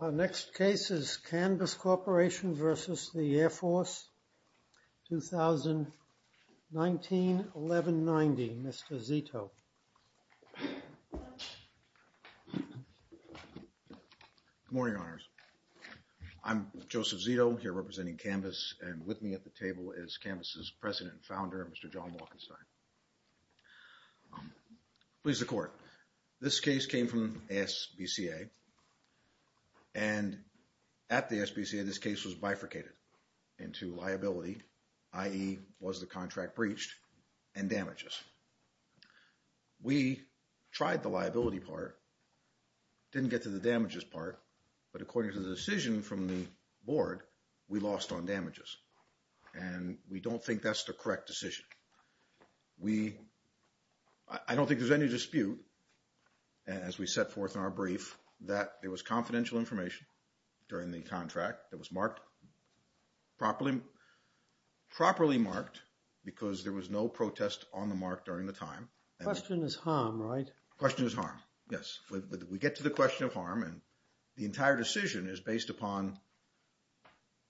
Our next case is CANVS Corporation v. The Air Force, 2019-1190, Mr. Zito. Good morning, Honors. I'm Joseph Zito, here representing CANVS, and with me at the table is CANVS's President and Founder, Mr. John Walkenstein. Please, the Court. This case came from ASBCA, and at the ASBCA, this case was bifurcated into liability, i.e., was the contract breached, and damages. We tried the liability part, didn't get to the damages part, but according to the decision from the Board, we lost on damages, and we don't think that's the correct decision. I don't think there's any dispute, as we set forth in our brief, that there was confidential information during the contract that was marked, properly marked, because there was no protest on the mark during the time. The question is harm, right? We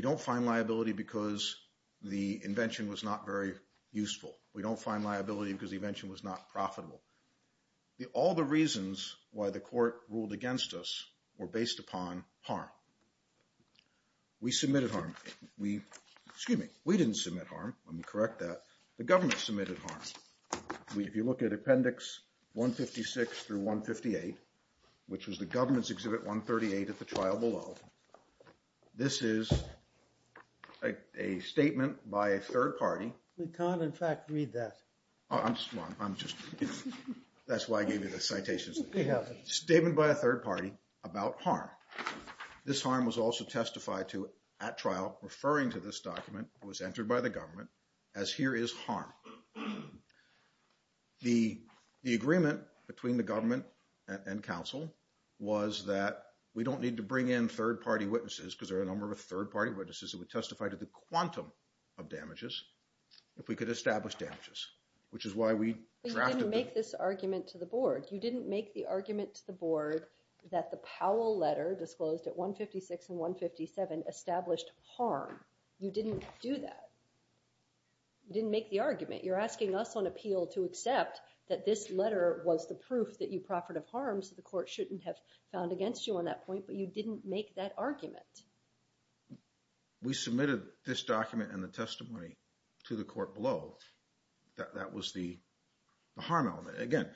don't find liability because the invention was not profitable. All the reasons why the Court ruled against us were based upon harm. We submitted harm. Excuse me, we didn't submit harm. Let me correct that. The government submitted harm. If you look at Appendix 156 through 158, which was the government's Exhibit 138 at the trial below, this is a statement by a third party. We can't, in fact, read that. That's why I gave you the citations. Statement by a third party about harm. This harm was also testified to at trial, referring to this document that was entered by the government, as here is harm. The agreement between the government and counsel was that we don't need to bring in third party witnesses because there are a number of third party witnesses that would testify to the quantum of damages if we could establish damages, which is why we drafted the… You're asking us on appeal to accept that this letter was the proof that you proffered of harm, so the Court shouldn't have found against you on that point, but you didn't make that argument. We submitted this document and the testimony to the Court below. That was the harm element. Again,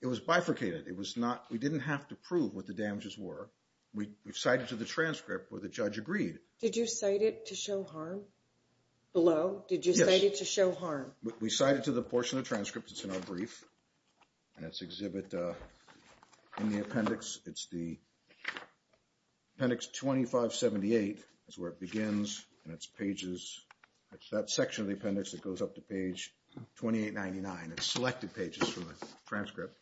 it was bifurcated. It was not, we didn't have to prove what the damages were. We cited to the transcript where the judge agreed. Did you cite it to show harm below? Yes. We cite it to show harm. We cite it to the portion of transcript that's in our brief, and it's exhibit in the appendix. It's the appendix 2578 is where it begins, and it's pages. It's that section of the appendix that goes up to page 2899. It's selected pages from the transcript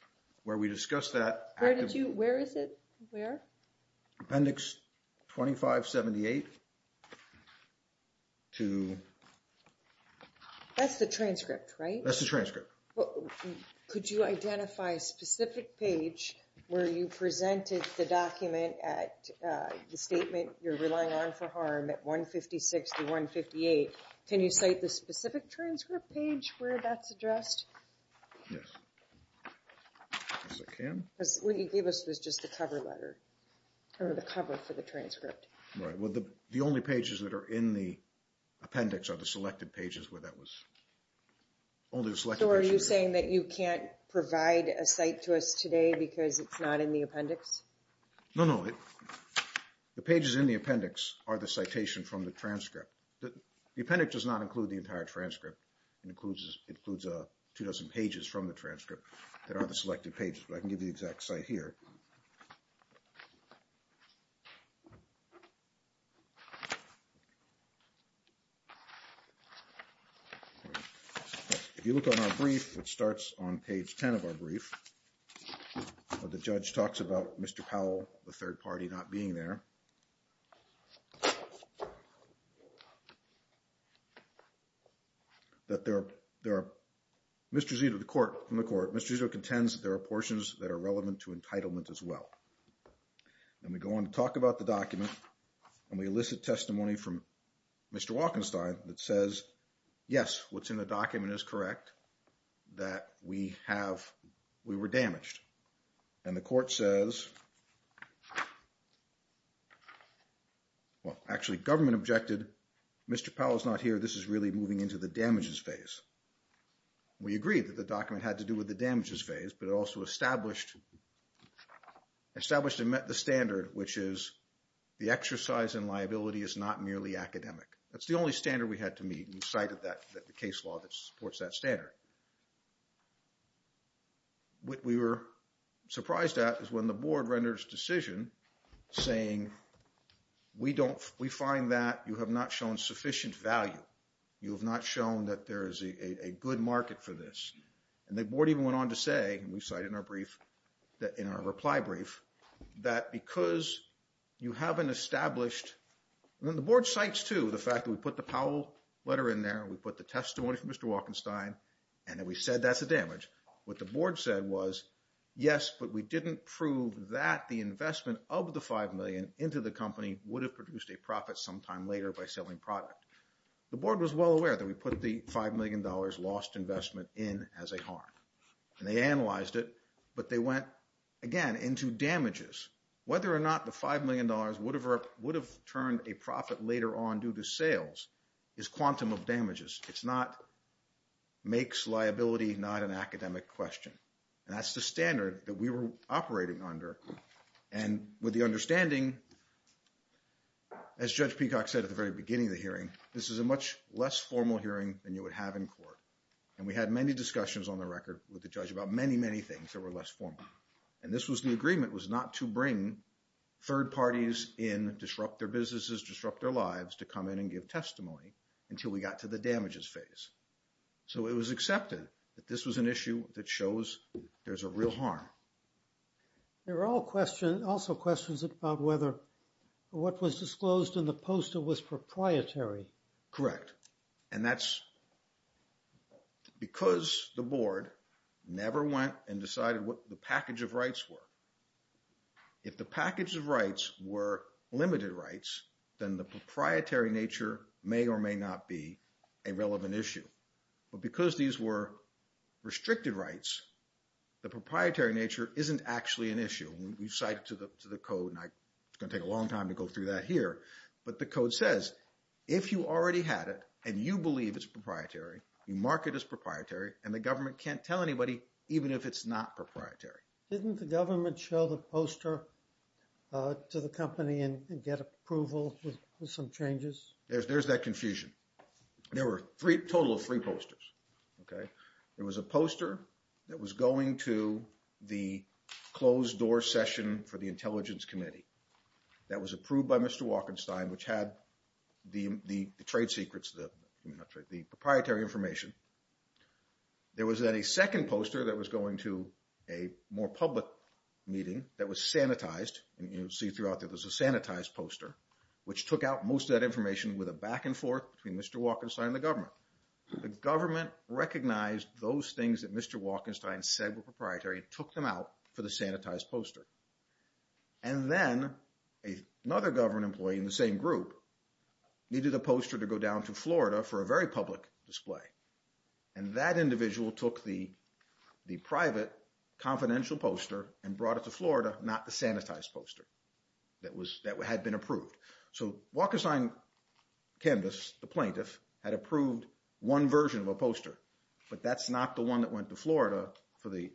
where we discuss that… Where did you, where is it? Where? Appendix 2578 to… That's the transcript, right? That's the transcript. Could you identify a specific page where you presented the document at the statement you're relying on for harm at 156 to 158? Can you cite the specific transcript page where that's addressed? Yes. Yes, I can. Because what you gave us was just the cover letter, or the cover for the transcript. Right. Well, the only pages that are in the appendix are the selected pages where that was… So are you saying that you can't provide a cite to us today because it's not in the appendix? No, no. The pages in the appendix are the citation from the transcript. The appendix does not include the entire transcript. It includes two dozen pages from the transcript that are the selected pages, but I can give you the exact cite here. If you look on our brief, it starts on page 10 of our brief. The judge talks about Mr. Powell, the third party, not being there. Mr. Zito, the court, from the court, Mr. Zito contends there are portions that are relevant to entitlement as well. And we go on to talk about the document, and we elicit testimony from Mr. Walkenstein that says, yes, what's in the document is correct, that we were damaged. And the court says, well, actually, government objected, Mr. Powell's not here, this is really moving into the damages phase. We agreed that the document had to do with the damages phase, but it also established and met the standard, which is the exercise in liability is not merely academic. That's the only standard we had to meet, and we cited the case law that supports that standard. What we were surprised at is when the board renders a decision saying we find that you have not shown sufficient value. You have not shown that there is a good market for this. And the board even went on to say, and we cite in our reply brief, that because you haven't established. And then the board cites, too, the fact that we put the Powell letter in there, we put the testimony from Mr. Walkenstein, and then we said that's a damage. What the board said was, yes, but we didn't prove that the investment of the $5 million into the company would have produced a profit sometime later by selling product. The board was well aware that we put the $5 million lost investment in as a harm. And they analyzed it, but they went, again, into damages. Whether or not the $5 million would have turned a profit later on due to sales is quantum of damages. It's not makes liability not an academic question. And that's the standard that we were operating under. And with the understanding, as Judge Peacock said at the very beginning of the hearing, this is a much less formal hearing than you would have in court. And we had many discussions on the record with the judge about many, many things that were less formal. And this was the agreement was not to bring third parties in, disrupt their businesses, disrupt their lives to come in and give testimony until we got to the damages phase. So it was accepted that this was an issue that shows there's a real harm. There are also questions about whether what was disclosed in the postal was proprietary. Correct. And that's because the board never went and decided what the package of rights were. If the package of rights were limited rights, then the proprietary nature may or may not be a relevant issue. But because these were restricted rights, the proprietary nature isn't actually an issue. We've cited to the code, and it's going to take a long time to go through that here. But the code says, if you already had it and you believe it's proprietary, you mark it as proprietary, and the government can't tell anybody, even if it's not proprietary. Didn't the government show the poster to the company and get approval for some changes? There's that confusion. There were a total of three posters. There was a poster that was going to the closed-door session for the Intelligence Committee that was approved by Mr. Walkenstein, which had the trade secrets, the proprietary information. There was then a second poster that was going to a more public meeting that was sanitized. And you'll see throughout that there's a sanitized poster, which took out most of that information with a back-and-forth between Mr. Walkenstein and the government. The government recognized those things that Mr. Walkenstein said were proprietary and took them out for the sanitized poster. And then another government employee in the same group needed a poster to go down to Florida for a very public display. And that individual took the private confidential poster and brought it to Florida, not the sanitized poster that had been approved. So Walkenstein Canvas, the plaintiff, had approved one version of a poster. But that's not the one that went to Florida for the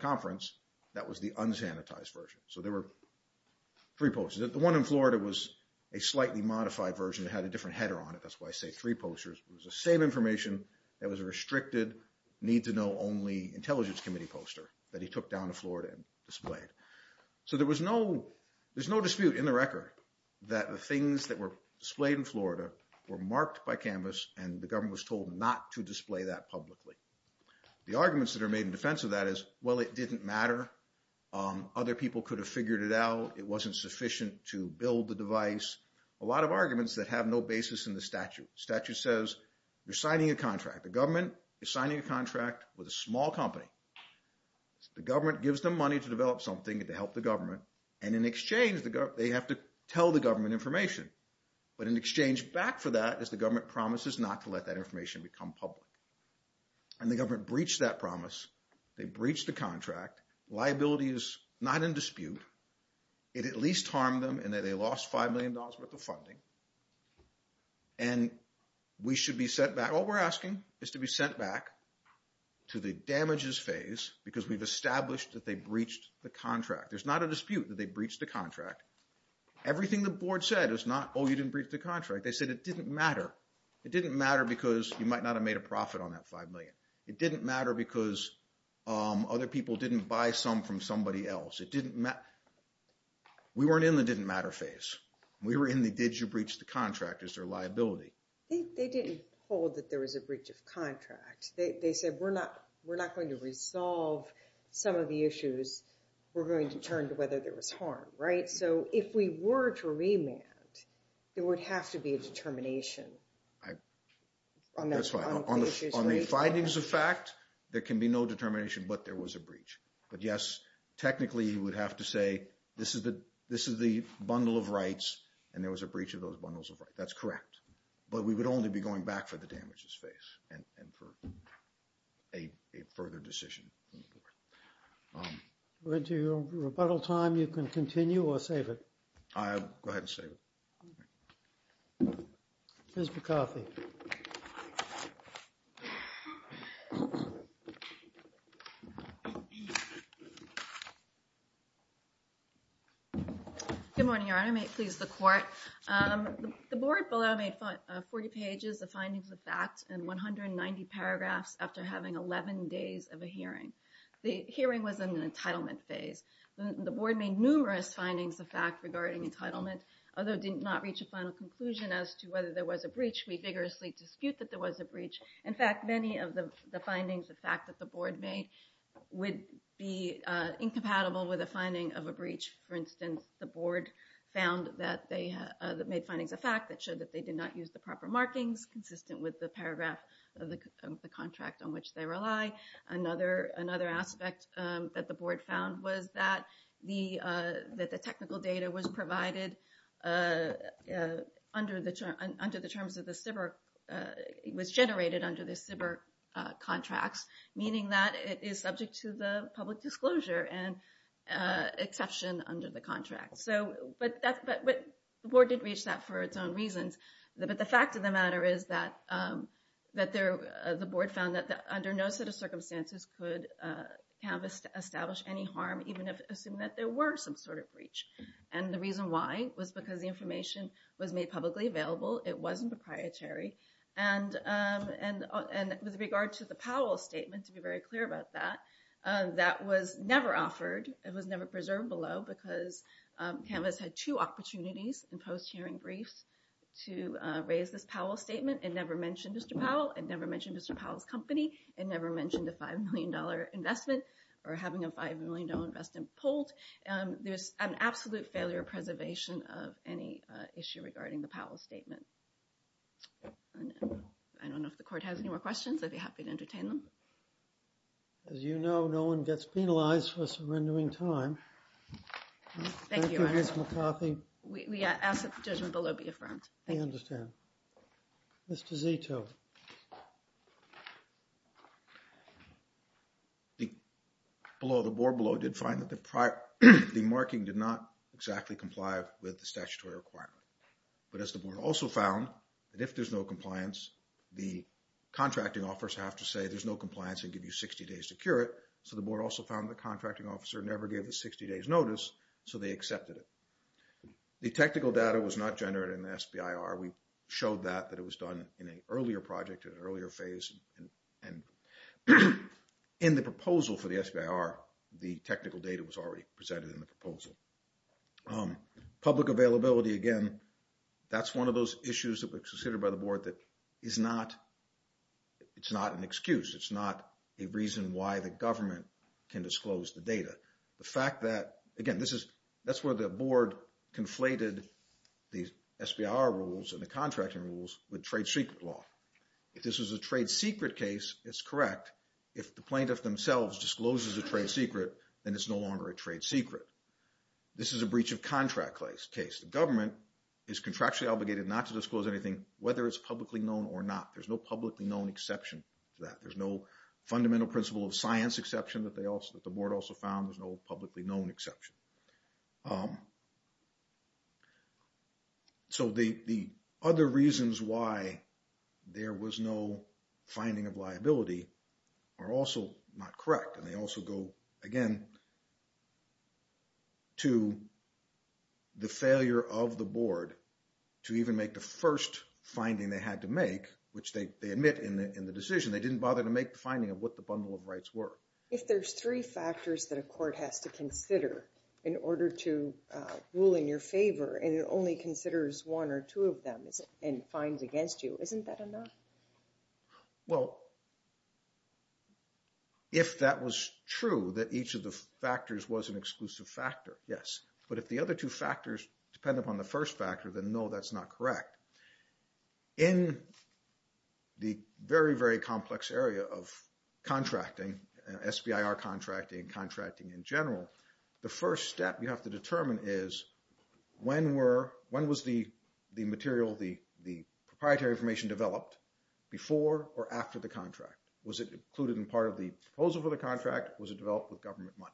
conference. That was the unsanitized version. So there were three posters. The one in Florida was a slightly modified version. It had a different header on it. That's why I say three posters. It was the same information. It was a restricted, need-to-know-only Intelligence Committee poster that he took down to Florida and displayed. So there was no dispute in the record that the things that were displayed in Florida were marked by Canvas and the government was told not to display that publicly. The arguments that are made in defense of that is, well, it didn't matter. Other people could have figured it out. It wasn't sufficient to build the device. A lot of arguments that have no basis in the statute. The statute says you're signing a contract. The government is signing a contract with a small company. The government gives them money to develop something to help the government. And in exchange, they have to tell the government information. But in exchange back for that is the government promises not to let that information become public. And the government breached that promise. They breached the contract. Liability is not in dispute. It at least harmed them in that they lost $5 million worth of funding. And we should be sent back. All we're asking is to be sent back to the damages phase because we've established that they breached the contract. There's not a dispute that they breached the contract. Everything the board said is not, oh, you didn't breach the contract. They said it didn't matter. It didn't matter because you might not have made a profit on that $5 million. It didn't matter because other people didn't buy some from somebody else. It didn't matter. We weren't in the didn't matter phase. We were in the did you breach the contract as their liability. They didn't hold that there was a breach of contract. They said we're not going to resolve some of the issues. We're going to turn to whether there was harm, right? So if we were to remand, there would have to be a determination. That's right. On the findings of fact, there can be no determination but there was a breach. But yes, technically, you would have to say this is the bundle of rights and there was a breach of those bundles of rights. That's correct. But we would only be going back for the damages phase and for a further decision. To your rebuttal time, you can continue or save it. Go ahead and save it. Here's your coffee. Good morning, Your Honor. May it please the court. The board below made 40 pages of findings of facts and 190 paragraphs after having 11 days of a hearing. The hearing was in the entitlement phase. The board made numerous findings of fact regarding entitlement, although did not reach a final conclusion as to whether there was a breach. We vigorously dispute that there was a breach. In fact, many of the findings of fact that the board made would be incompatible with a finding of a breach. For instance, the board found that they made findings of fact that showed that they did not use the proper markings consistent with the paragraph of the contract on which they rely. Another aspect that the board found was that the technical data was provided under the terms of the SBIRC. It was generated under the SBIRC contracts, meaning that it is subject to the public disclosure and exception under the contract. But the board did reach that for its own reasons. But the fact of the matter is that the board found that under no set of circumstances could Canvas establish any harm, even if it assumed that there were some sort of breach. And the reason why was because the information was made publicly available. It wasn't proprietary. And with regard to the Powell Statement, to be very clear about that, that was never offered. It was never preserved below because Canvas had two opportunities in post-hearing briefs to raise this Powell Statement. It never mentioned Mr. Powell. It never mentioned Mr. Powell's company. It never mentioned a $5 million investment or having a $5 million investment pulled. There's an absolute failure of preservation of any issue regarding the Powell Statement. I don't know if the court has any more questions. I'd be happy to entertain them. As you know, no one gets penalized for surrendering time. Thank you, Mr. McCarthy. We ask that the judgment below be affirmed. I understand. Mr. Zito. The board below did find that the marking did not exactly comply with the statutory requirement. But as the board also found, that if there's no compliance, the contracting offers have to say there's no compliance and give you 60 days to cure it. So the board also found the contracting officer never gave the 60 days notice, so they accepted it. The technical data was not generated in the SBIR. We showed that it was done in an earlier project, in an earlier phase. And in the proposal for the SBIR, the technical data was already presented in the proposal. Public availability, again, that's one of those issues that were considered by the board that is not an excuse. It's not a reason why the government can disclose the data. The fact that, again, that's where the board conflated the SBIR rules and the contracting rules with trade secret law. If this was a trade secret case, it's correct. If the plaintiff themselves discloses a trade secret, then it's no longer a trade secret. This is a breach of contract case. The government is contractually obligated not to disclose anything, whether it's publicly known or not. There's no publicly known exception to that. There's no fundamental principle of science exception that the board also found. There's no publicly known exception. So the other reasons why there was no finding of liability are also not correct. And they also go, again, to the failure of the board to even make the first finding they had to make, which they admit in the decision. They didn't bother to make the finding of what the bundle of rights were. If there's three factors that a court has to consider in order to rule in your favor, and it only considers one or two of them and finds against you, isn't that enough? Well, if that was true, that each of the factors was an exclusive factor, yes. But if the other two factors depend upon the first factor, then no, that's not correct. In the very, very complex area of contracting, SBIR contracting, contracting in general, the first step you have to determine is when was the material, the proprietary information developed, before or after the contract? Was it included in part of the proposal for the contract? Was it developed with government money?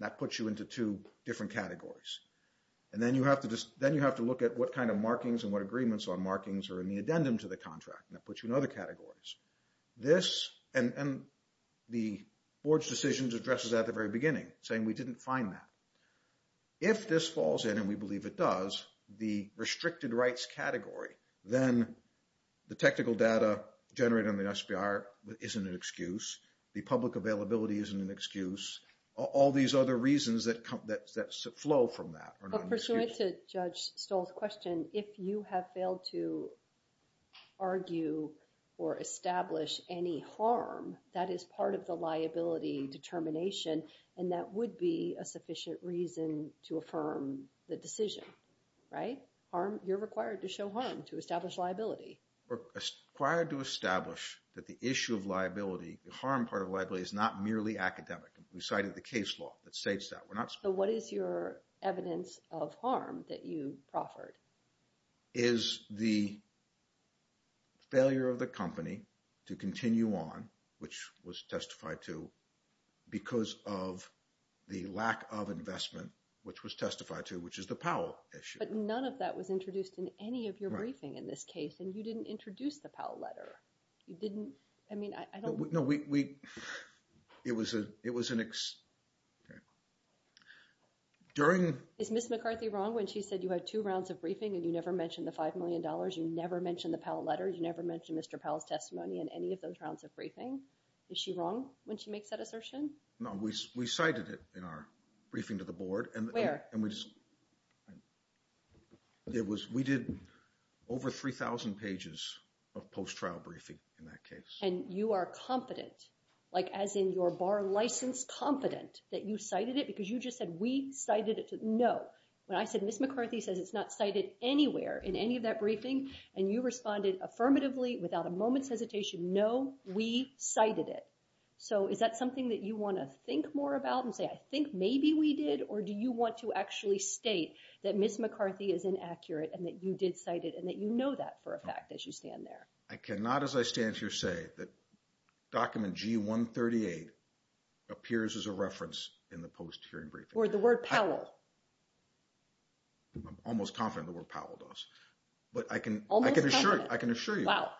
That puts you into two different categories. And then you have to look at what kind of markings and what agreements on markings are in the addendum to the contract, and that puts you in other categories. This and the board's decisions addresses that at the very beginning, saying we didn't find that. If this falls in, and we believe it does, the restricted rights category, then the technical data generated on the SBIR isn't an excuse. The public availability isn't an excuse. All these other reasons that flow from that are not an excuse. But pursuant to Judge Stoll's question, if you have failed to argue or establish any harm, that is part of the liability determination, and that would be a sufficient reason to affirm the decision, right? You're required to show harm to establish liability. Required to establish that the issue of liability, the harm part of liability, is not merely academic. We cited the case law that states that. So what is your evidence of harm that you proffered? Is the failure of the company to continue on, which was testified to, because of the lack of investment, which was testified to, which is the Powell issue. But none of that was introduced in any of your briefing in this case, and you didn't introduce the Powell letter. You didn't? I mean, I don't— No, we—it was an—during— Is Ms. McCarthy wrong when she said you had two rounds of briefing and you never mentioned the $5 million? You never mentioned the Powell letter? You never mentioned Mr. Powell's testimony in any of those rounds of briefing? Is she wrong when she makes that assertion? No, we cited it in our briefing to the board. Where? And we just—it was—we did over 3,000 pages of post-trial briefing in that case. And you are confident, like as in your bar license, confident that you cited it because you just said, we cited it to—no. When I said, Ms. McCarthy says it's not cited anywhere in any of that briefing, and you responded affirmatively without a moment's hesitation, no, we cited it. So is that something that you want to think more about and say, I think maybe we did, or do you want to actually state that Ms. McCarthy is inaccurate and that you did cite it and that you know that for a fact as you stand there? I cannot, as I stand here, say that document G138 appears as a reference in the post-hearing briefing. Or the word Powell. I'm almost confident the word Powell does. But I can— Almost confident. I can assure you. Wow.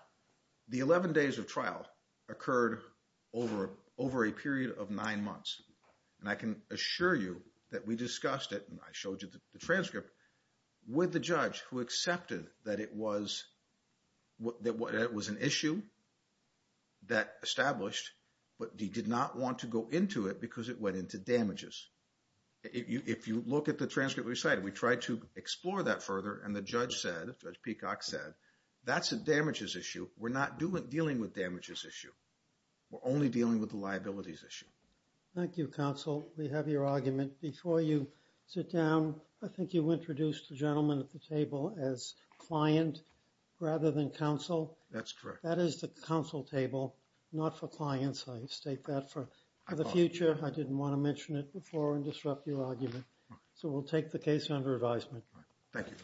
The 11 days of trial occurred over a period of nine months. And I can assure you that we discussed it, and I showed you the transcript, with the judge who accepted that it was an issue that established, but he did not want to go into it because it went into damages. If you look at the transcript we cited, we tried to explore that further, and the judge said, Judge Peacock said, that's a damages issue. We're not dealing with damages issue. We're only dealing with the liabilities issue. Thank you, counsel. We have your argument. Before you sit down, I think you introduced the gentleman at the table as client rather than counsel. That's correct. That is the counsel table, not for clients. I state that for the future. I didn't want to mention it before and disrupt your argument. So we'll take the case under advisement. Thank you.